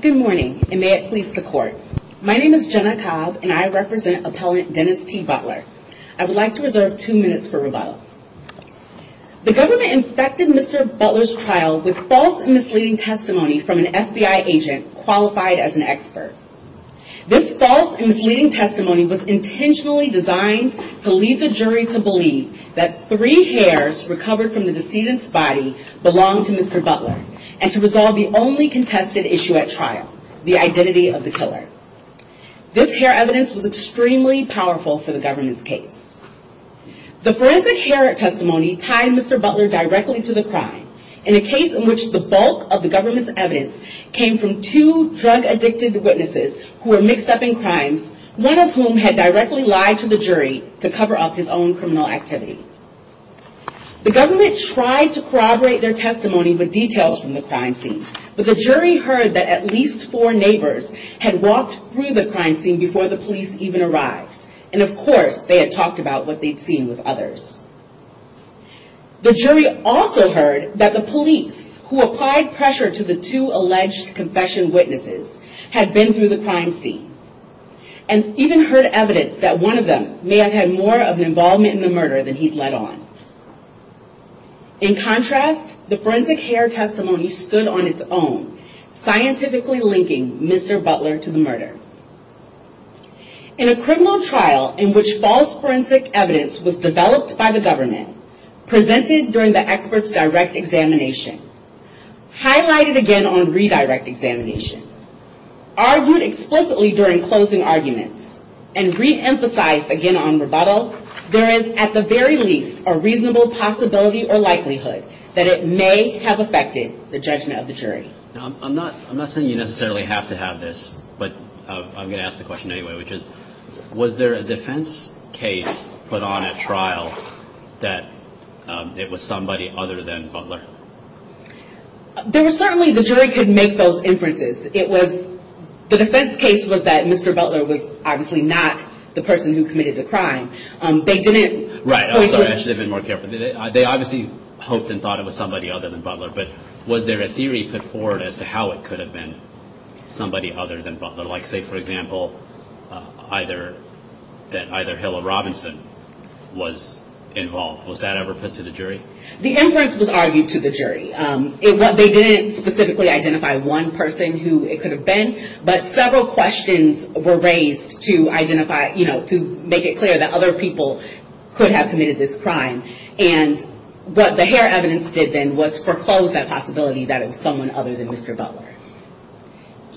Good morning, and may it please the court. My name is Jenna Cobb, and I represent Appellant Dennis T. Butler. I would like to reserve two minutes for rebuttal. The government infected Mr. Butler's trial with false and misleading testimony from an FBI agent qualified as an expert. This false and misleading testimony was intentionally designed to lead the jury to believe that three hairs recovered from the decedent's body belonged to Mr. Butler, and to resolve the only contested issue at trial, the identity of the killer. This hair evidence was extremely powerful for the government's case. The forensic hair testimony tied Mr. Butler to crime, in a case in which the bulk of the government's evidence came from two drug-addicted witnesses who were mixed up in crimes, one of whom had directly lied to the jury to cover up his own criminal activity. The government tried to corroborate their testimony with details from the crime scene, but the jury heard that at least four neighbors had walked through the crime scene before the police even arrived, and of course they had talked about what they'd seen with others. The jury also heard that the police, who applied pressure to the two alleged confession witnesses, had been through the crime scene, and even heard evidence that one of them may have had more of an involvement in the murder than he'd let on. In contrast, the forensic hair testimony stood on its own, scientifically linking Mr. Butler to the murder. In a criminal trial in which false forensic evidence was developed by the government, presented during the expert's direct examination, highlighted again on redirect examination, argued explicitly during closing arguments, and reemphasized again on rebuttal, there is, at the very least, a reasonable possibility or likelihood that it may have affected the judgment of the jury. I'm not saying you necessarily have to have this, but I'm going to ask the question anyway, which is, was there a defense case put on at trial that it was somebody other than Butler? There was certainly, the jury could make those inferences. It was, the defense case was that Mr. Butler was obviously not the person who committed the crime. They didn't... Right, I'm sorry, I should have been more careful. They obviously hoped and thought it was somebody other than Butler, but was there a theory put forward as to how it could have been somebody other than Butler? Like say, for example, that either Hill or Robinson was involved. Was that ever put to the jury? The inference was argued to the jury. They didn't specifically identify one person who it could have been, but several questions were raised to identify, to make it clear that other people could have committed this crime. What the hair evidence did then was foreclose that possibility that it was someone other than Mr. Butler.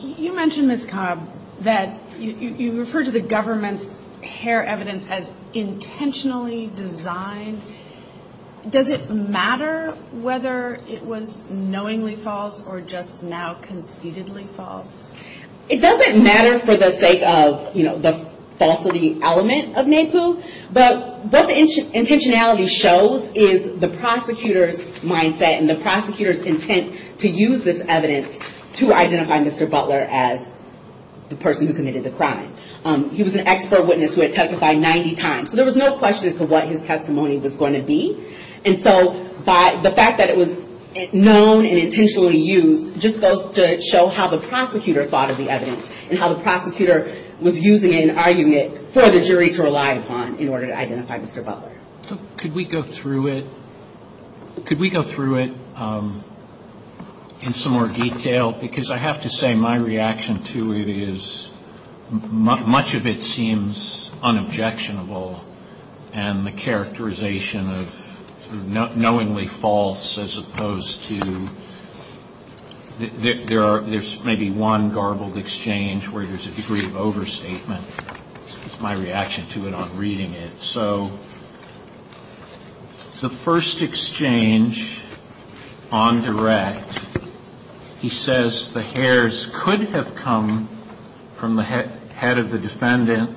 You mentioned, Ms. Cobb, that you referred to the government's hair evidence as intentionally designed. Does it matter whether it was knowingly false or just now conceitedly false? It doesn't matter for the sake of the falsity element of NAPU, but what the intentionality shows is the prosecutor's mindset and the prosecutor's intent to use this evidence to identify Mr. Butler as the person who committed the crime. He was an expert witness who had testified 90 times, so there was no question as to what his testimony was going to be. So the fact that it was known and intentionally used just goes to show how the prosecutor thought of the evidence and how the prosecutor was using it and arguing it for the jury to rely upon in order to identify Mr. Butler. Could we go through it in some more detail? Because I have to say my reaction to it is much of it seems unobjectionable and the characterization of knowingly false as opposed to there's maybe one garbled exchange where there's a degree of overstatement. That's my reaction to it on reading it. So the first exchange on direct, he says the hairs could have come from the head of Mr. Butler, the head of the defendant,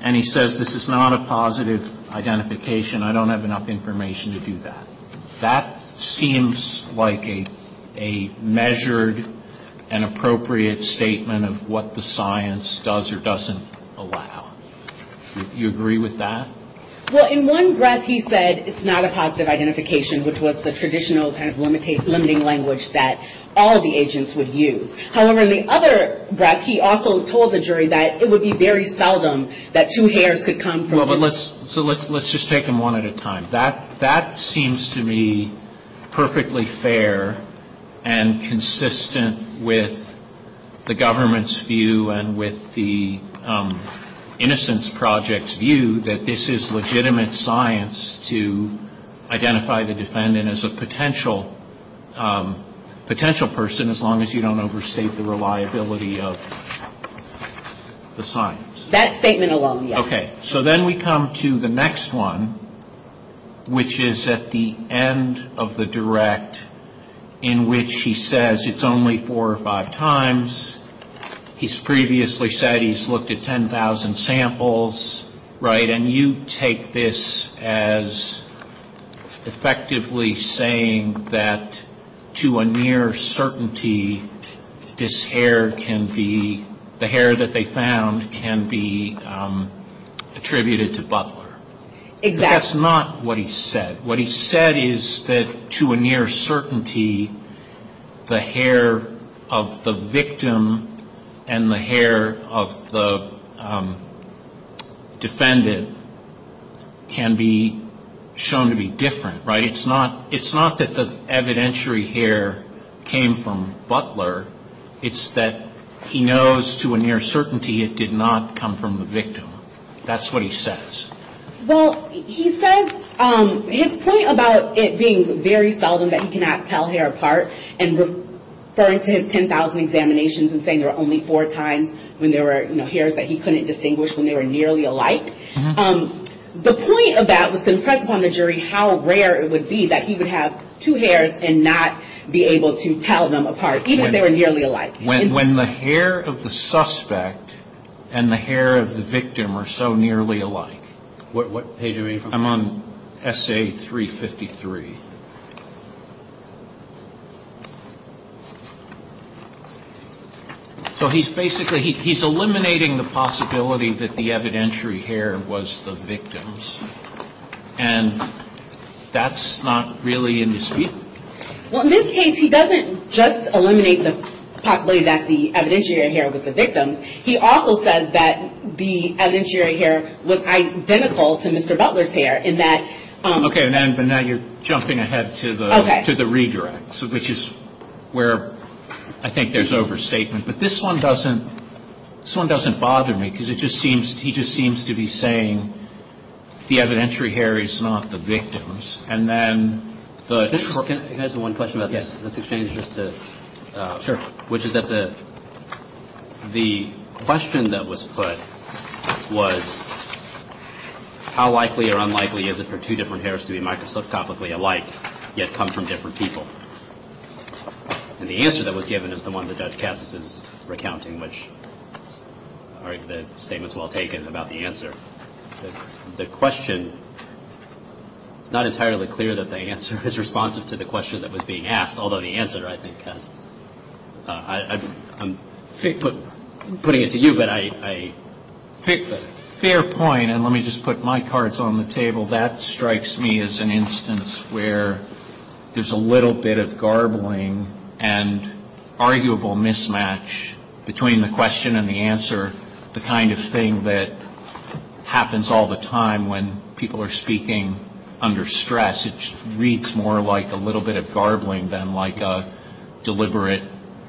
and he says this is not a positive identification. I don't have enough information to do that. That seems like a measured and appropriate statement of what the science does or doesn't allow. Do you agree with that? Well, in one breath he said it's not a positive identification, which was the traditional kind of limiting language that all of the agents would use. However, in the other breath he also told the jury that it would be very seldom that two hairs could come from the head of Mr. Butler. So let's just take them one at a time. That seems to me perfectly fair and consistent with the government's view and with the Innocence Project's view that this is legitimate science to identify the defendant as a potential person as long as you don't overstate the reliability of the science. That statement alone, yes. Okay. So then we come to the next one, which is at the end of the direct in which he says it's only four or five times. He's previously said he's looked at 10,000 samples, right? And you take this as effectively saying that to a near certainty this hair can come from the head of Mr. Butler, the hair that they found can be attributed to Butler. Exactly. But that's not what he said. What he said is that to a near certainty the hair of the victim and the hair of the defendant can be shown to be different, right? It's not that the evidentiary hair came from Butler. It's that he knows to a near certainty it did not come from the victim. That's what he says. Well, he says, his point about it being very seldom that he cannot tell hair apart and referring to his 10,000 examinations and saying there were only four times when there were hairs that he couldn't distinguish when they were nearly alike, the point of that was to how rare it would be that he would have two hairs and not be able to tell them apart even if they were nearly alike. When the hair of the suspect and the hair of the victim are so nearly alike, I'm on essay 353. So he's basically, he's eliminating the possibility that the evidentiary hair was the victim's. And that's not really indisputable. Well, in this case he doesn't just eliminate the possibility that the evidentiary hair was the victim's. He also says that the evidentiary hair was identical to Mr. Butler's hair in that. Okay, but now you're jumping ahead to the redirects, which is where I think there's overstatement. But this one doesn't bother me because it just seems, he just seems to be saying the evidentiary hair is not the victim's. And then the Can I ask you one question about this exchange, which is that the question that was put was how likely or unlikely is it for two different hairs to be microscopically alike, yet come from different people? And the answer that was given is the one that Judge Cassis is asking. The question, it's not entirely clear that the answer is responsive to the question that was being asked, although the answer I think has, I'm putting it to you, but I Fair point. And let me just put my cards on the table. That strikes me as an instance where there's a little bit of garbling and arguable mismatch between the question and the answer, the kind of thing that happens all the time when people are speaking under stress. It reads more like a little bit of garbling than like a deliberate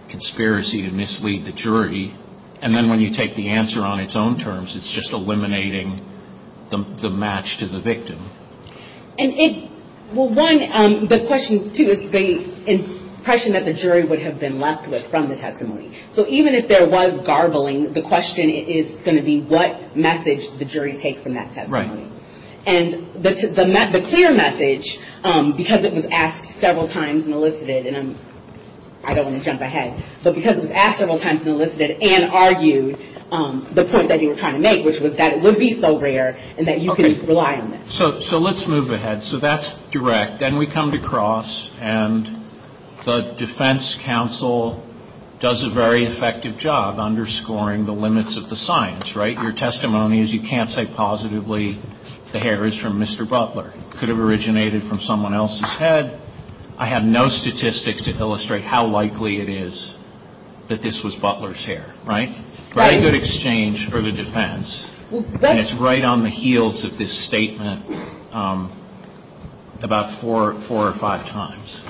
conspiracy to mislead the jury. And then when you take the answer on its own terms, it's just eliminating the match to the victim. And it, well one, the question too is the impression that the jury would have been left with from the testimony. So even if there was garbling, the question is going to be what message the jury take from that testimony. And the clear message, because it was asked several times and elicited, and I don't want to jump ahead, but because it was asked several times and elicited and argued, the point that you were trying to make, which was that it would be so rare and that you could rely on it. So let's move ahead. So that's direct. Then we come to cross. And the defense counsel does a very effective job underscoring the limits of the science, right? Your testimony is you can't say positively the hair is from Mr. Butler. It could have originated from someone else's head. I have no statistics to illustrate how likely it is that this was Butler's hair, right? Right. It's a very good exchange for the defense. And it's right on the heels of this statement about four or five times.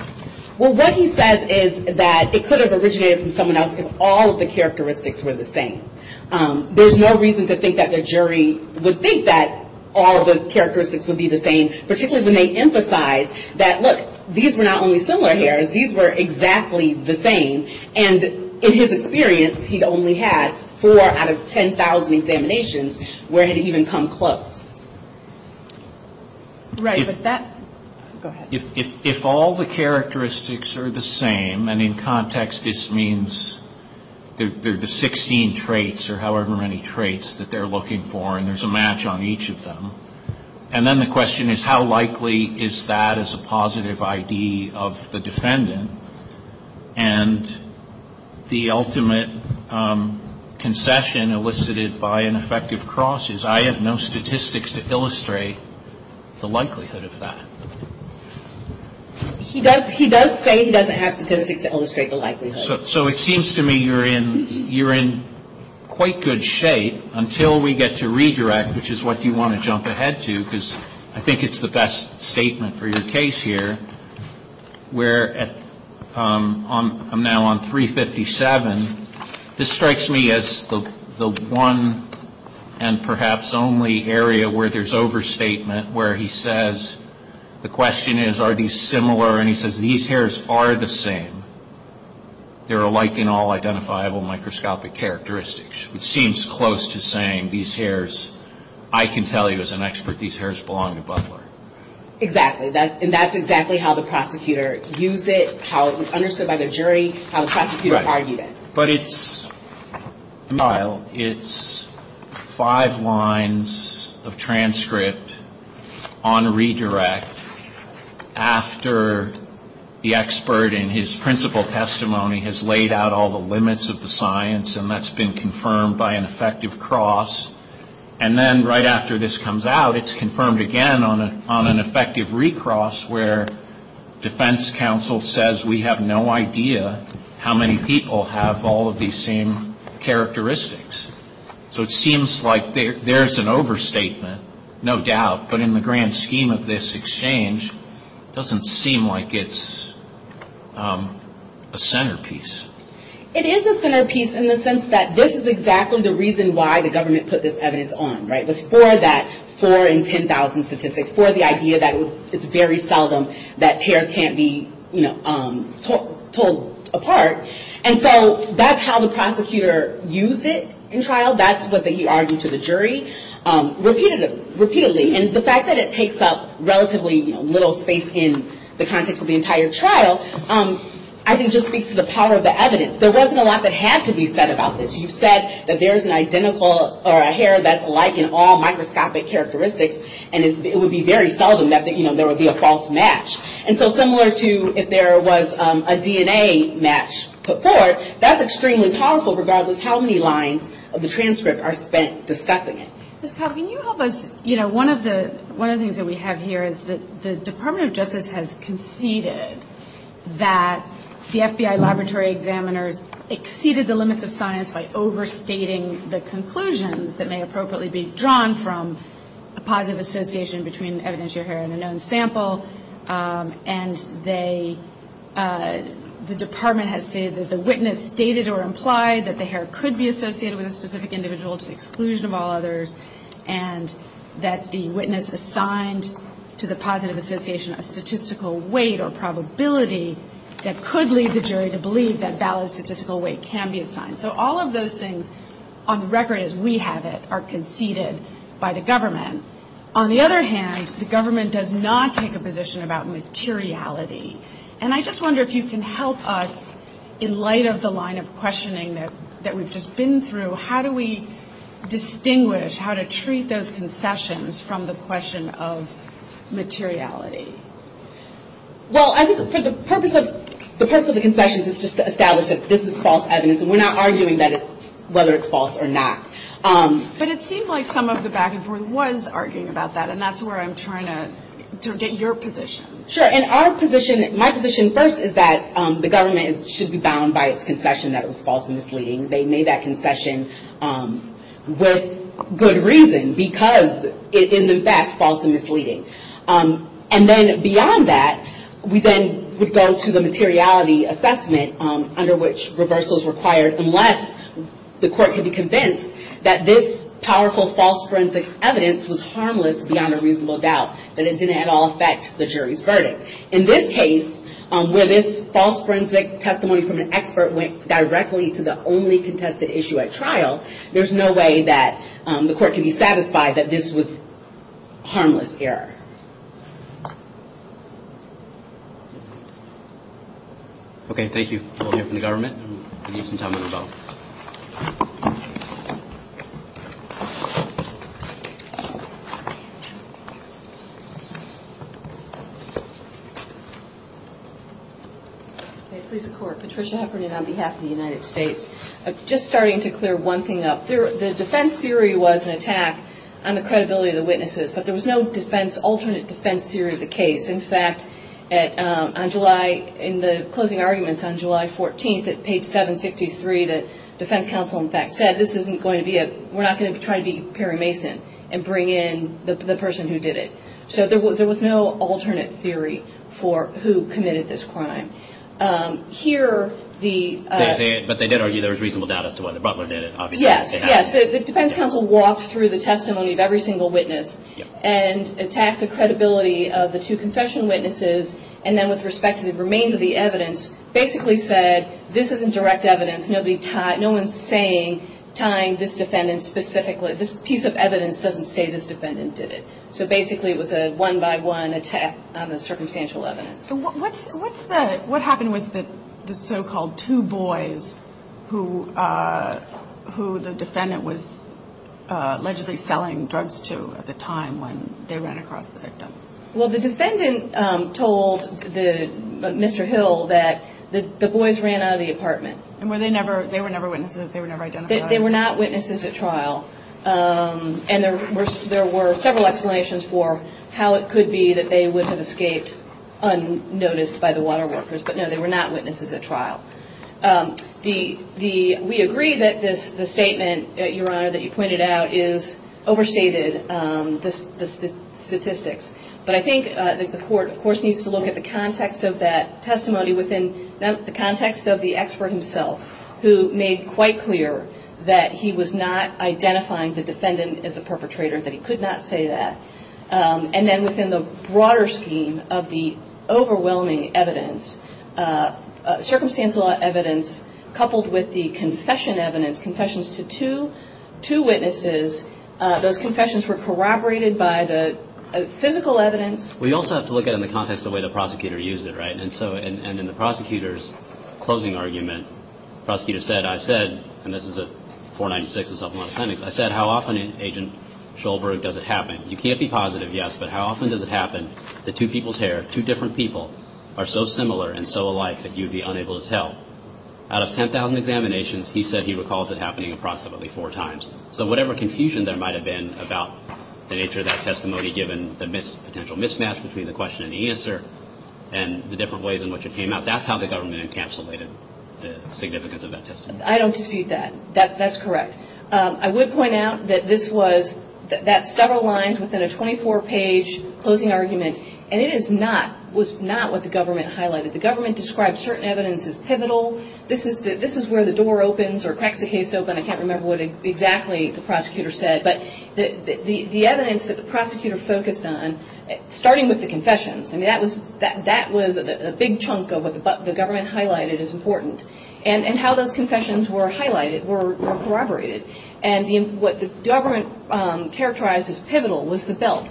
Well what he says is that it could have originated from someone else if all of the characteristics were the same. There's no reason to think that the jury would think that all the characteristics would be the same, particularly when they emphasize that, look, these were not only out of 10,000 examinations, where had it even come close? Right. But that, go ahead. If all the characteristics are the same, and in context this means there are the 16 traits or however many traits that they're looking for and there's a match on each of them, and then the question is how likely is that as a positive ID of the defendant, and the discussion elicited by an effective cross is I have no statistics to illustrate the likelihood of that. He does say he doesn't have statistics to illustrate the likelihood. So it seems to me you're in quite good shape until we get to redirect, which is what you want to jump ahead to, because I think it's the best statement for your case here, where at, I'm now on 357, this strikes me as the one and perhaps only area where there's overstatement where he says the question is are these similar, and he says these hairs are the same. They're alike in all identifiable microscopic characteristics, which seems close to saying these hairs, I can tell you as an expert, these hairs belong to Butler. Exactly, and that's exactly how the prosecutor used it, how it was understood by the jury, how the prosecutor argued it. But it's five lines of transcript on redirect after the expert in his principal testimony has laid out all the limits of the science and that's been confirmed by an effective cross, and then right after this comes out, it's confirmed again on an effective recross where defense counsel says we have no idea how many people have all of these same characteristics. So it seems like there's an overstatement, no doubt, but in the grand scheme of this exchange, doesn't seem like it's a centerpiece. It is a centerpiece in the sense that this is exactly the reason why the government put this evidence on, it was for that 4 in 10,000 statistic, for the idea that it's very seldom that hairs can't be told apart. And so that's how the prosecutor used it in trial, that's what he argued to the jury, repeatedly. And the fact that it takes up relatively little space in the context of the entire trial, I think just speaks to the power of the evidence. There wasn't a lot that had to be said about this. You've said that there's an identical, or a hair that's like in all microscopic characteristics, and it would be very seldom that there would be a false match. And so similar to if there was a DNA match put forth, that's extremely powerful regardless how many lines of the transcript are spent discussing it. Ms. Powell, can you help us, you know, one of the things that we have here is that the Department of Justice has conceded that the FBI laboratory examiners exceeded the limits of science by overstating the conclusions that may appropriately be drawn from a positive association between evidence you heard in a known sample. And the Department has stated that the witness stated or implied that the hair could be associated with a specific individual to the exclusion of all others, and that the witness assigned to the positive association a statistical weight or probability that could lead the jury to believe that valid statistical weight can be assigned. So all of those things, on record as we have it, are conceded by the government. On the other hand, the government does not take a position about materiality. And I just wonder if you can help us in light of the line of questioning that we've just been through. How do we distinguish, how to treat those concessions from the question of materiality? Well, I think for the purpose of the concessions is just to establish that this is false evidence, and we're not arguing whether it's false or not. But it seems like some of the back and forth was arguing about that, and that's where I'm trying to get your position. Sure, and our position, my position first is that the government should be bound by its concession that it was false and misleading. They made that concession with good reason, because it is in fact false and misleading. And then beyond that, we then would go to the materiality assessment, under which reversal is required, unless the court can be convinced that this powerful false forensic evidence was harmless beyond a reasonable doubt. That it didn't at all affect the jury's verdict. In this case, where this false forensic testimony from an expert went directly to the only contested issue at trial, there's no way that the court can be satisfied that this was harmless error. Okay, thank you. We'll hear from the government. Okay, please, the court. Patricia Heffernan on behalf of the United States. Just starting to clear one thing up. The defense theory was an attack on the credibility of the witnesses, but there was no alternate defense theory of the case. In fact, on July, in the closing arguments on July 14th at page 763, the defense counsel in fact said, this isn't going to be, we're not going to try to be Perry Mason and bring in the person who did it. So there was no alternate theory for who committed this crime. Here, the... But they did argue there was reasonable doubt as to whether Butler did it, obviously. Yes, yes, the defense counsel walked through the testimony of every single witness, and attacked the credibility of the two confession witnesses, and then with respect to the remainder of the evidence, basically said, this isn't direct evidence, nobody tied, no one's saying, tying this defendant specifically, this piece of evidence doesn't say this defendant did it. So basically, it was a one-by-one attack on the circumstantial evidence. So what's the, what happened with the so-called two boys, who the defendant was allegedly selling drugs to at the time when they ran across the victim? Well, the defendant told Mr. Hill that the boys ran out of the apartment. And were they never, they were never witnesses, they were never identified? They were not witnesses at trial. And there were several explanations for how it could be that they would have escaped unnoticed by the water workers. But no, they were not witnesses at trial. The, we agree that this statement, Your Honor, that you pointed out, is overstated, the statistics. But I think the court, of course, needs to look at the context of that testimony within the context of the expert himself, who made quite clear that he was not identifying the defendant as the perpetrator, that he could not say that. And then within the broader scheme of the overwhelming evidence, circumstantial evidence coupled with the confession evidence, confessions to two witnesses, those confessions were corroborated by the physical evidence. We also have to look at it in the context of the way the prosecutor used it, right? And so, and in the prosecutor's closing argument, the prosecutor said, I said, and this is a 496, a supplemental appendix. I said, how often, Agent Shulberg, does it happen? You can't be positive, yes, but how often does it happen that two people's hair, two different people, are so similar and so alike that you'd be unable to tell? Out of 10,000 examinations, he said he recalls it happening approximately four times. Given the potential mismatch between the question and the answer and the different ways in which it came out, that's how the government encapsulated the significance of that testimony. I don't dispute that. That's correct. I would point out that this was, that's several lines within a 24-page closing argument, and it is not, was not what the government highlighted. The government described certain evidence as pivotal. This is where the door opens or cracks the case open. I can't remember what exactly the prosecutor said, but the evidence that the prosecutor focused on, starting with the confessions, I mean, that was a big chunk of what the government highlighted as important, and how those confessions were highlighted, were corroborated. And what the government characterized as pivotal was the belt.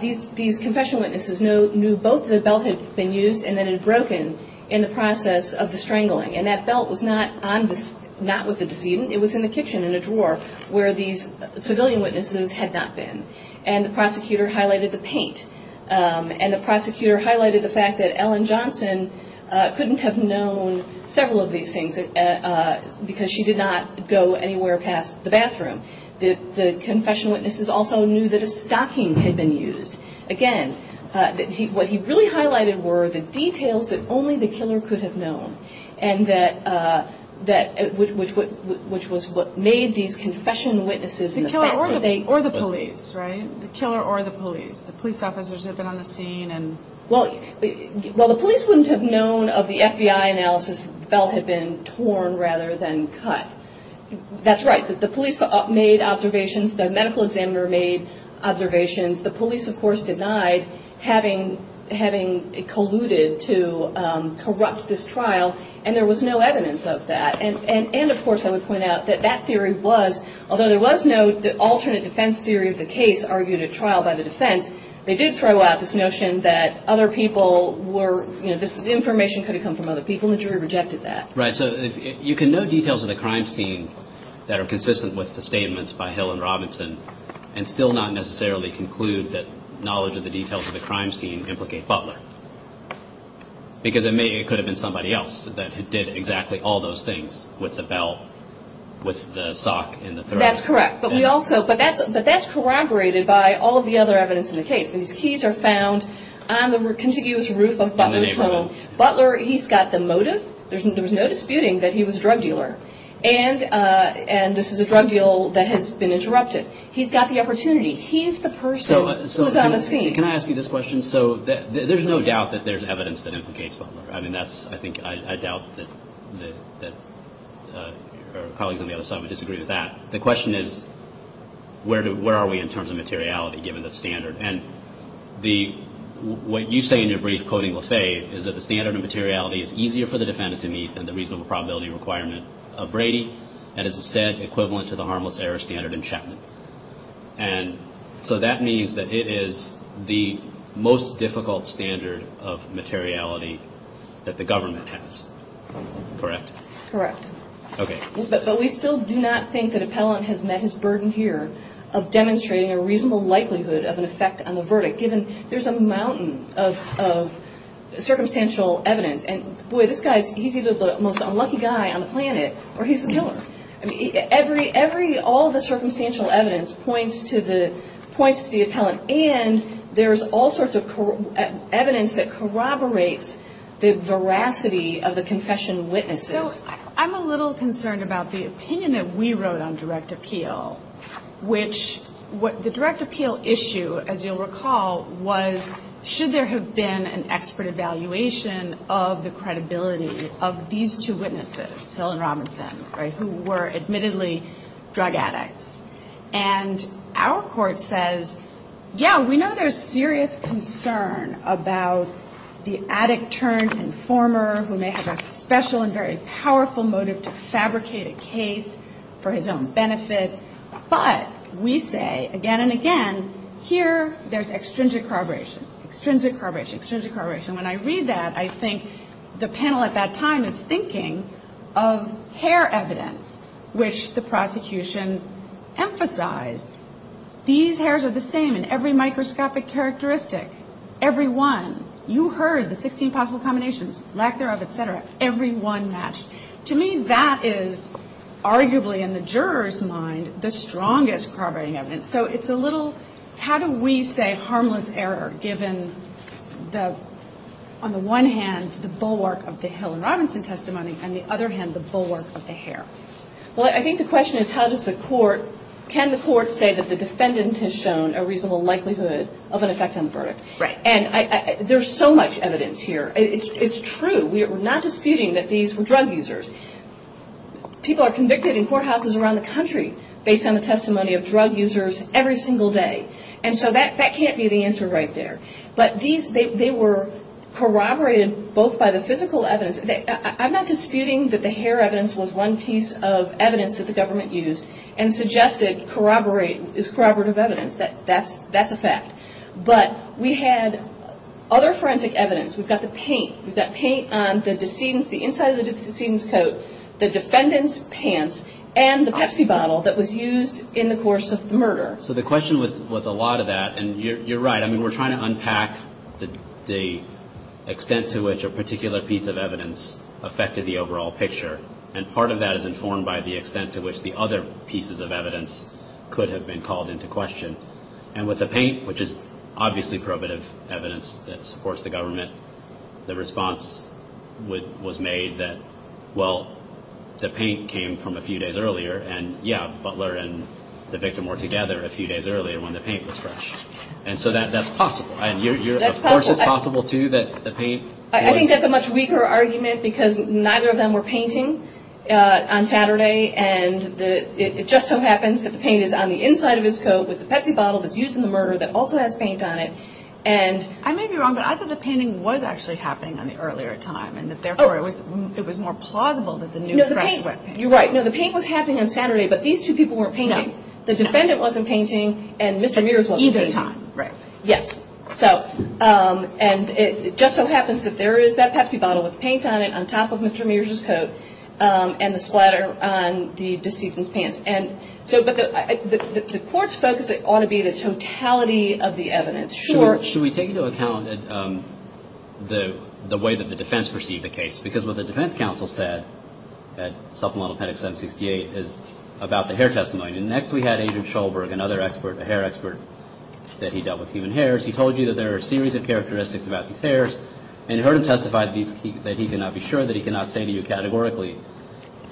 These confessional witnesses knew both the belt had been used and that it had broken in the process of the strangling, and that belt was not on the, not with the decedent. It was in the kitchen in a drawer where these civilian witnesses had not been. And the prosecutor highlighted the paint. And the prosecutor highlighted the fact that Ellen Johnson couldn't have known several of these things because she did not go anywhere past the bathroom. The confessional witnesses also knew that a stocking had been used. Again, what he really highlighted were the details that only the killer could have known, and that, which was what made these confessional witnesses. The killer or the police, right? The killer or the police. The police officers who had been on the scene. Well, the police wouldn't have known of the FBI analysis that the belt had been torn rather than cut. That's right. The police made observations. The medical examiner made observations. The police, of course, denied having colluded to corrupt this trial, and there was no evidence of that. And, of course, I would point out that that theory was, although there was no alternate defense theory of the case argued at trial by the defense, they did throw out this notion that other people were, you know, this information could have come from other people, and the jury rejected that. Right, so you can know details of the crime scene that are consistent with the statements by Hill and Robinson and still not necessarily conclude that knowledge of the details of the crime scene implicate Butler. Because it may, it could have been somebody else that did exactly all those things with the belt, with the sock in the throat. That's correct, but we also, but that's corroborated by all of the other evidence in the case. These keys are found on the contiguous roof of Butler's home. Butler, he's got the motive. There was no disputing that he was a drug dealer, and this is a drug deal that has been interrupted. He's got the opportunity. He's the person who's on the scene. So, can I ask you this question? So, there's no doubt that there's evidence that implicates Butler. I mean, that's, I think, I doubt that our colleagues on the other side would disagree with that. The question is, where are we in terms of materiality, given the standard? And the, what you say in your brief, quoting Lafayette, is that the standard of materiality is easier for the defendant to meet than the reasonable probability requirement of Brady, and is instead equivalent to the harmless error standard in Chapman. And so, that means that it is the most difficult standard of materiality that the government has, correct? Correct. Okay. But we still do not think that Appellant has met his burden here of demonstrating a reasonable likelihood of an effect on the verdict, given there's a mountain of circumstantial evidence. And, boy, this guy's, he's either the most unlucky guy on the planet, or he's the killer. Every, every, all the circumstantial evidence points to the, points to the Appellant, and there's all sorts of evidence that corroborates the veracity of the confession witnesses. So, I'm a little concerned about the opinion that we wrote on direct appeal, which, the direct appeal issue, as you'll recall, was, should there have been an expert evaluation of the credibility of these two witnesses, Hill and Robinson, right, who were admittedly drug addicts. And our court says, yeah, we know there's serious concern about the addict-turned-informer, who may have a special and very powerful motive to fabricate a case for his own benefit, but we say, again and again, here, there's extrinsic corroboration, extrinsic corroboration, extrinsic corroboration. When I read that, I think the panel at that time is thinking of hair evidence, which the prosecution emphasized. These hairs are the same in every microscopic characteristic, every one. You heard the 16 possible combinations, lack thereof, et cetera, every one matched. To me, that is arguably, in the juror's mind, the strongest corroborating evidence. So it's a little, how do we say harmless error, given the, on the one hand, the bulwark of the Hill and Robinson testimony, and the other hand, the bulwark of the hair? Well, I think the question is, how does the court, can the court say that the defendant has shown a reasonable likelihood of an effect on the verdict? Right. And there's so much evidence here. It's true. We're not disputing that these were drug users. People are convicted in courthouses around the country based on the testimony of drug users every single day. And so that can't be the answer right there. But these, they were corroborated both by the physical evidence. I'm not disputing that the hair evidence was one piece of evidence that the government used and suggested corroborate, is corroborative evidence. That's a fact. But we had other forensic evidence. We've got the paint. We've got paint on the decedent's, the inside of the decedent's coat, the defendant's pants, and the Pepsi bottle that was used in the course of the murder. So the question was a lot of that. And you're right. I mean, we're trying to unpack the extent to which a particular piece of evidence affected the overall picture. And part of that is informed by the extent to which the other pieces of evidence could have been called into question. And with the paint, which is obviously probative evidence that supports the government, the response was made that, well, the paint came from a few days earlier. And yeah, Butler and the victim were together a few days earlier when the paint was fresh. And so that's possible. And of course it's possible, too, that the paint was... I think that's a much weaker argument because neither of them were painting on Saturday. And it just so happens that the paint is on the inside of his coat with the Pepsi bottle that's used in the murder that also has paint on it. And... I may be wrong, but I thought the painting was actually happening on the earlier time. And therefore it was more plausible that the new fresh wet paint... You're right. No, the paint was happening on Saturday. But these two people weren't painting. No. The defendant wasn't painting. And Mr. Mears wasn't painting. At the same time. Right. So... And it just so happens that there is that Pepsi bottle with paint on it on top of Mr. Mears's coat. And the splatter on the deceitful's pants. And so... But the court's focus ought to be the totality of the evidence. Sure. Should we take into account the way that the defense perceived the case? Because what the defense counsel said at supplemental pedic 768 is about the hair testimony. And next we had Agent Shulberg, another expert, a hair expert, that he dealt with human hairs. He told you that there are a series of characteristics about these hairs. And you heard him testify that he cannot be sure, that he cannot say to you categorically.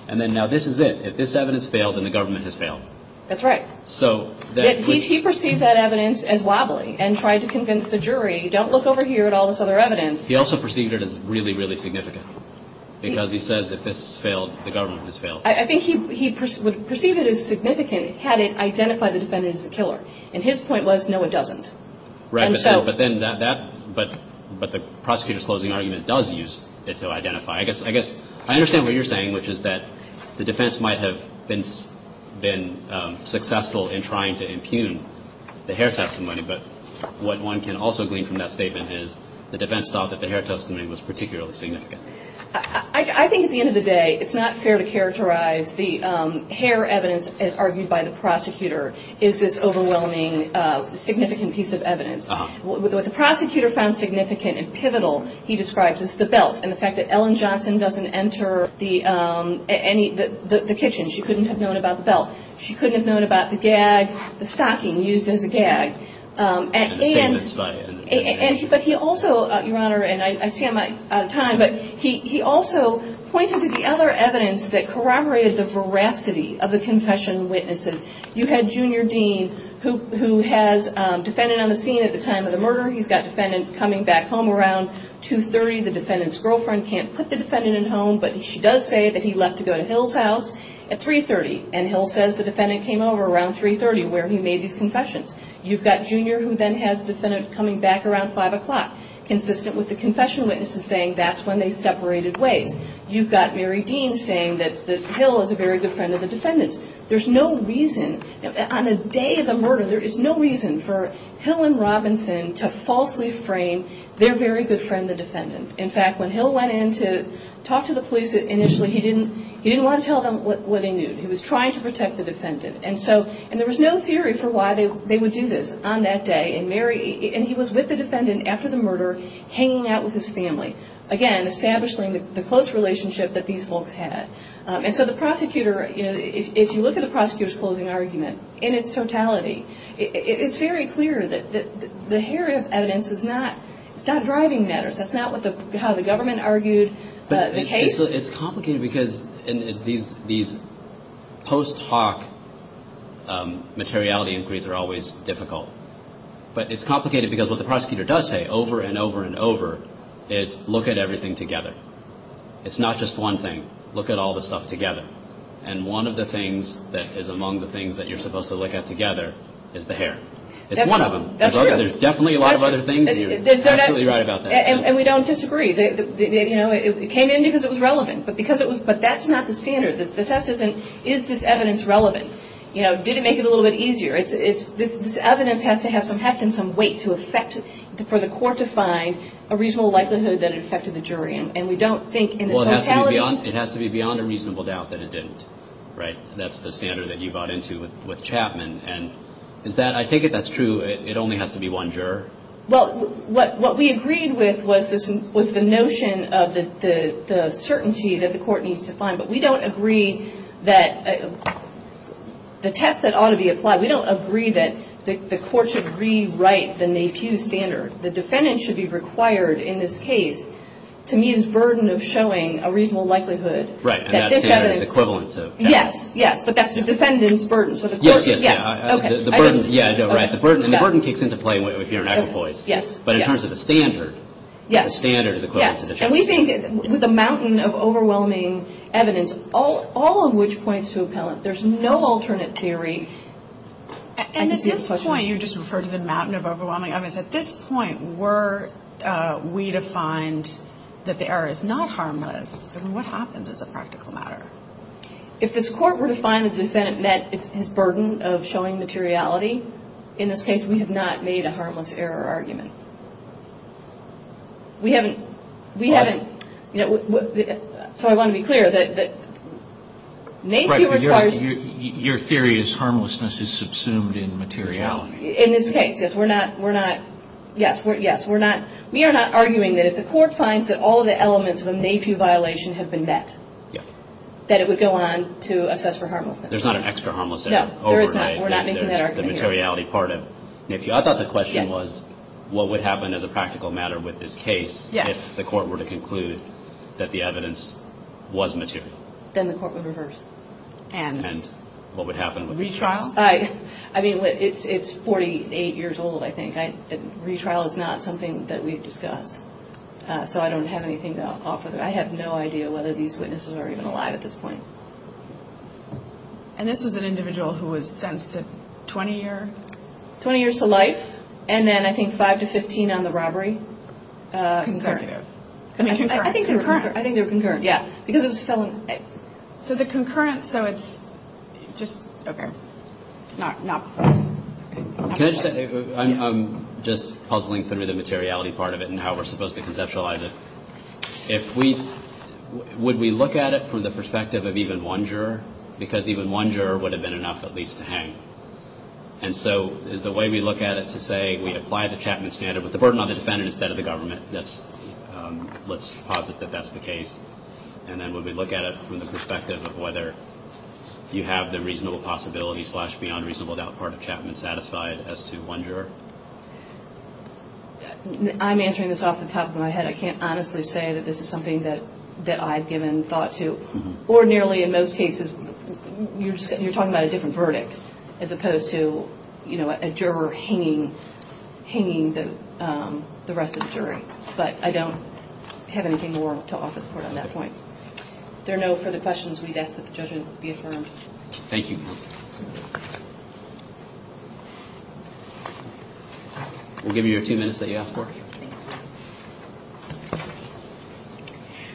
And then now this is it. If this evidence failed, then the government has failed. That's right. So... He perceived that evidence as wobbly and tried to convince the jury, don't look over here at all this other evidence. He also perceived it as really, really significant. Because he says if this failed, the government has failed. I think he perceived it as significant had it identified the defendant as the killer. And his point was, no it doesn't. Right, but then that, but the prosecutor's closing argument does use it to identify. I guess, I understand what you're saying, which is that the defense might have been successful in trying to impugn the hair testimony. But what one can also glean from that statement is the defense thought that the hair testimony was particularly significant. I think at the end of the day, it's not fair to characterize the hair evidence as argued by the prosecutor is this overwhelming, significant piece of evidence. What the prosecutor found significant and pivotal, he describes as the belt. And the fact that Ellen Johnson doesn't enter the kitchen, she couldn't have known about the belt. She couldn't have known about the gag, the stocking used as a gag. And the statements by... But he also, your honor, and I see I'm out of time. But he also pointed to the other evidence that corroborated the veracity of the confession witnesses. You had Junior Dean, who has a defendant on the scene at the time of the murder. He's got a defendant coming back home around 2.30. The defendant's girlfriend can't put the defendant in home, but she does say that he left to go to Hill's house at 3.30. And Hill says the defendant came over around 3.30, where he made these confessions. You've got Junior, who then has the defendant coming back around 5 o'clock, consistent with the confession witnesses saying that's when they separated ways. You've got Mary Dean saying that Hill is a very good friend of the defendant's. There's no reason, on a day of the murder, there is no reason for Hill and Robinson to falsely frame their very good friend, the defendant. In fact, when Hill went in to talk to the police initially, he didn't want to tell them what he knew. He was trying to protect the defendant. And there was no theory for why they would do this on that day. And he was with the defendant after the murder, hanging out with his family. Again, establishing the close relationship that these folks had. And so the prosecutor, if you look at the prosecutor's closing argument in its totality, it's very clear that the hair of evidence is not driving matters. That's not how the government argued the case. It's complicated because these post hoc materiality inquiries are always difficult. But it's complicated because what the prosecutor does say over and over and over is look at everything together. It's not just one thing. Look at all the stuff together. And one of the things that is among the things that you're supposed to look at together is the hair. It's one of them. There's definitely a lot of other things. You're absolutely right about that. And we don't disagree. It came in because it was relevant. But that's not the standard. The test isn't, is this evidence relevant? Did it make it a little bit easier? This evidence has to have some heft and some weight for the court to find a reasonable likelihood that it affected the jury. And we don't think in the totality. It has to be beyond a reasonable doubt that it didn't, right? That's the standard that you bought into with Chapman. I take it that's true. It only has to be one juror? Well, what we agreed with was the notion of the certainty that the court needs to find. But we don't agree that the test that ought to be applied, we don't agree that the court should rewrite the NAPIU standard. The defendant should be required in this case to meet his burden of showing a reasonable likelihood that this evidence... Right. And that standard is equivalent to... Yes, yes. But that's the defendant's burden. Yes, yes. The burden kicks into play if you're an equipoise. Yes. But in terms of the standard, the standard is equivalent to the... Yes. And we think with a mountain of overwhelming evidence, all of which points to appellant. There's no alternate theory. And at this point, you just referred to the mountain of overwhelming evidence. At this point, were we to find that the error is not harmless, then what happens as a practical matter? If this court were to find the defendant met his burden of showing materiality, in this case, we have not made a harmless error argument. We haven't... Pardon? So I want to be clear that NAPIU requires... Right, but your theory is harmlessness is subsumed in materiality. In this case, yes, we're not... Yes, we're not... We are not arguing that if the court finds that all of the elements of a NAPIU violation have been met, that it would go on to assess for harmlessness. There's not an extra harmless error? No, there is not. We're not making that argument here. There's the materiality part of NAPIU. I thought the question was what would happen as a practical matter with this case if the court were to conclude that the evidence was material? Then the court would reverse. And? And what would happen with this case? Retrial? Retrial? I mean, it's 48 years old, I think. Retrial is not something that we've discussed. So I don't have anything to offer. I have no idea whether these witnesses are even alive at this point. And this was an individual who was sentenced to 20 years? 20 years to life. And then I think 5 to 15 on the robbery. Concurrent. I think concurrent. I think they were concurrent, yeah. Because it was felon... So the concurrent, so it's just... Okay. It's not for us. Can I just... I'm just puzzling through the materiality part of it and how we're supposed to conceptualize it. If we... Would we look at it from the perspective of even one juror? Because even one juror would have been enough at least to hang. And so is the way we look at it to say we apply the Chapman standard with the burden on the defendant instead of the government? Let's posit that that's the case. And then would we look at it from the perspective of whether you have the reasonable possibility slash beyond reasonable doubt part of Chapman satisfied as to one juror? I'm answering this off the top of my head. I can't honestly say that this is something that I've given thought to. Ordinarily in most cases, you're talking about a different verdict as opposed to a juror hanging the rest of the jury. But I don't have anything more to offer the court on that point. If there are no further questions, we'd ask that the judgment be affirmed. Thank you. We'll give you your two minutes that you asked for.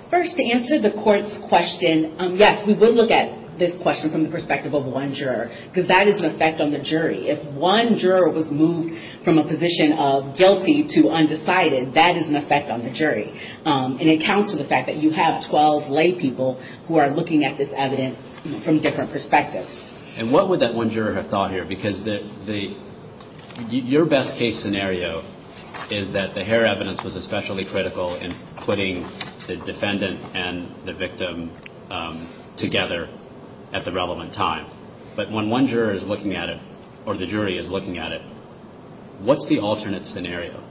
First, to answer the court's question. Yes, we would look at this question from the perspective of one juror. Because that is an effect on the jury. If one juror was moved from a position of guilty to undecided, that is an effect on the jury. And it counts to the fact that you have 12 lay people who are looking at this evidence from different perspectives. And what would that one juror have thought here? Because your best case scenario is that the hair evidence was especially critical in putting the defendant and the victim together at the relevant time. But when one juror is looking at it, or the jury is looking at it, what's the alternate scenario?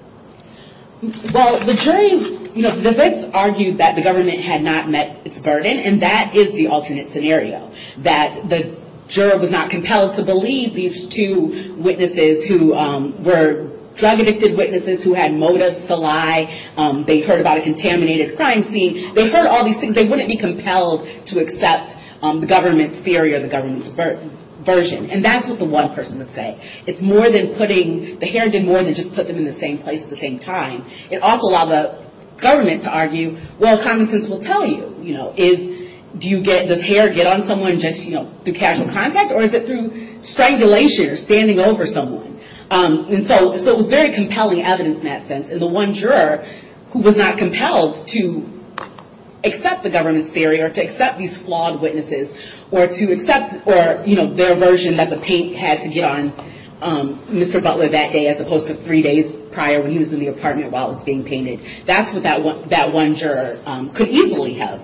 Well, the jury, you know, the wits argued that the government had not met its burden. And that is the alternate scenario. That the juror was not compelled to believe these two witnesses who were drug-addicted witnesses, who had motives to lie. They heard about a contaminated crime scene. They heard all these things. They wouldn't be compelled to accept the government's theory or the government's version. And that's what the one person would say. It's more than putting, the hair did more than just put them in the same place at the same time. It also allowed the government to argue, well, common sense will tell you. You know, is, do you get, does hair get on someone just, you know, through casual contact? Or is it through strangulation or standing over someone? And so it was very compelling evidence in that sense. And the one juror who was not compelled to accept the government's theory or to accept these flawed witnesses, or to accept, or, you know, their version that the paint had to get on Mr. Butler that day as opposed to three days prior when he was in the apartment while it was being painted. That's what that one juror could easily have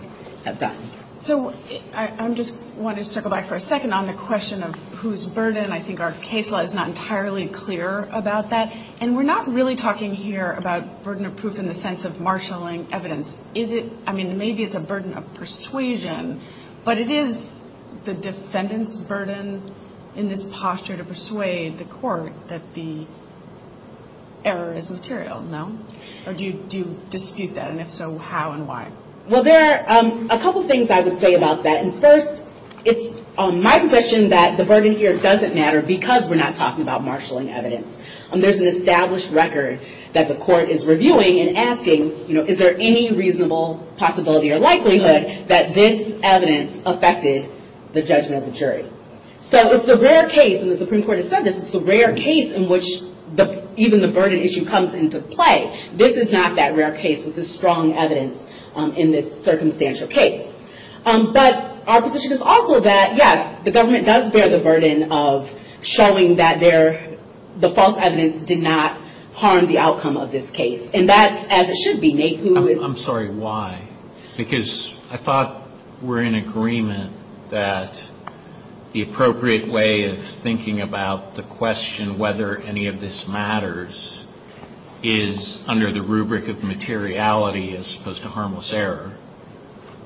done. So, I just wanted to circle back for a second on the question of whose burden. I think our case law is not entirely clear about that. And we're not really talking here about burden of proof in the sense of marshalling evidence. Is it, I mean, maybe it's a burden of persuasion. But it is the defendant's burden in this posture to persuade the court that the error is material, no? Or do you dispute that? And if so, how and why? Well, there are a couple things I would say about that. And first, it's my position that the burden here doesn't matter because we're not talking about marshalling evidence. There's an established record that the court is reviewing and asking, you know, is there any reasonable possibility or likelihood that this evidence affected the judgment of the jury? So, it's the rare case, and the Supreme Court has said this, it's the rare case in which even the burden issue comes into play. This is not that rare case with the strong evidence in this circumstantial case. But our position is also that, yes, the government does bear the burden of showing that the false evidence did not harm the outcome of this case. And that's as it should be. I'm sorry, why? Because I thought we're in agreement that the appropriate way of thinking about the question whether any of this matters is under the rubric of materiality as opposed to harmless error.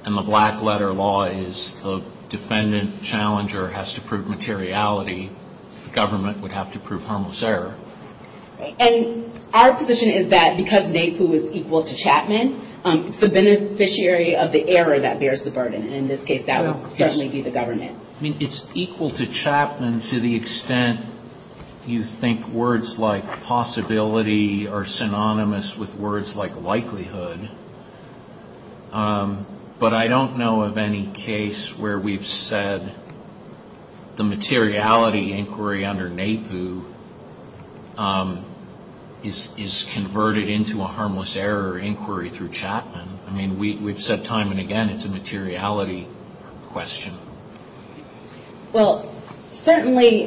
And the black letter law is the defendant challenger has to prove materiality. The government would have to prove harmless error. And our position is that because NAPU is equal to Chapman, it's the beneficiary of the error that bears the burden. And in this case, that would certainly be the government. I mean, it's equal to Chapman to the extent you think words like possibility are synonymous with words like likelihood. But I don't know of any case where we've said the materiality inquiry under NAPU is converted into a harmless error inquiry through Chapman. I mean, we've said time and again it's a materiality question. Well, certainly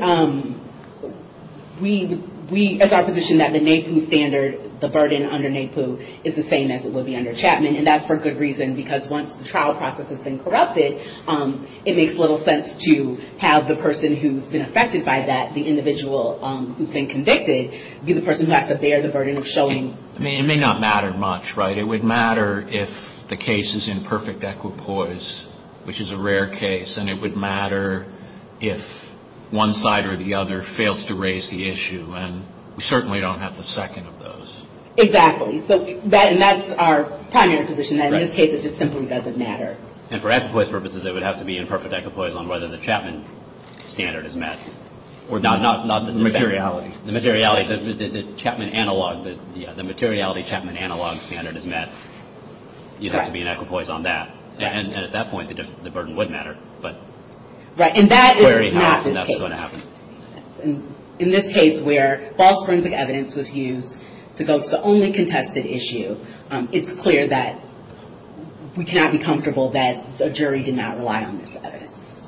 it's our position that the NAPU standard the burden under NAPU is the same as it would be under Chapman. And that's for good reason because once the trial process has been corrupted it makes little sense to have the person who's been affected by that, the individual who's been convicted, be the person who has to bear the burden of showing I mean, it may not matter much, right? It would matter if the case is in perfect equipoise which is a rare case. And it would matter if one side or the other fails to raise the issue. And we certainly don't have the second of those. Exactly. And that's our primary position that in this case it just simply doesn't matter. And for equipoise purposes it would have to be in perfect equipoise on whether the Chapman standard is met. The materiality. The materiality Chapman analog standard is met. You'd have to be in equipoise on that. And at that point the burden would matter. Right. And that is not this case. In this case where false forensic evidence was used to go to the only contested issue, it's clear that we cannot be comfortable that a jury did not rely on this evidence.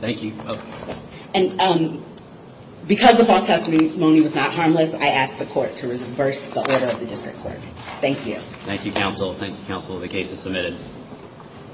Thank you. Because the false testimony was not harmless I ask the court to reverse the order of the district court. Thank you. Thank you counsel. The case is submitted.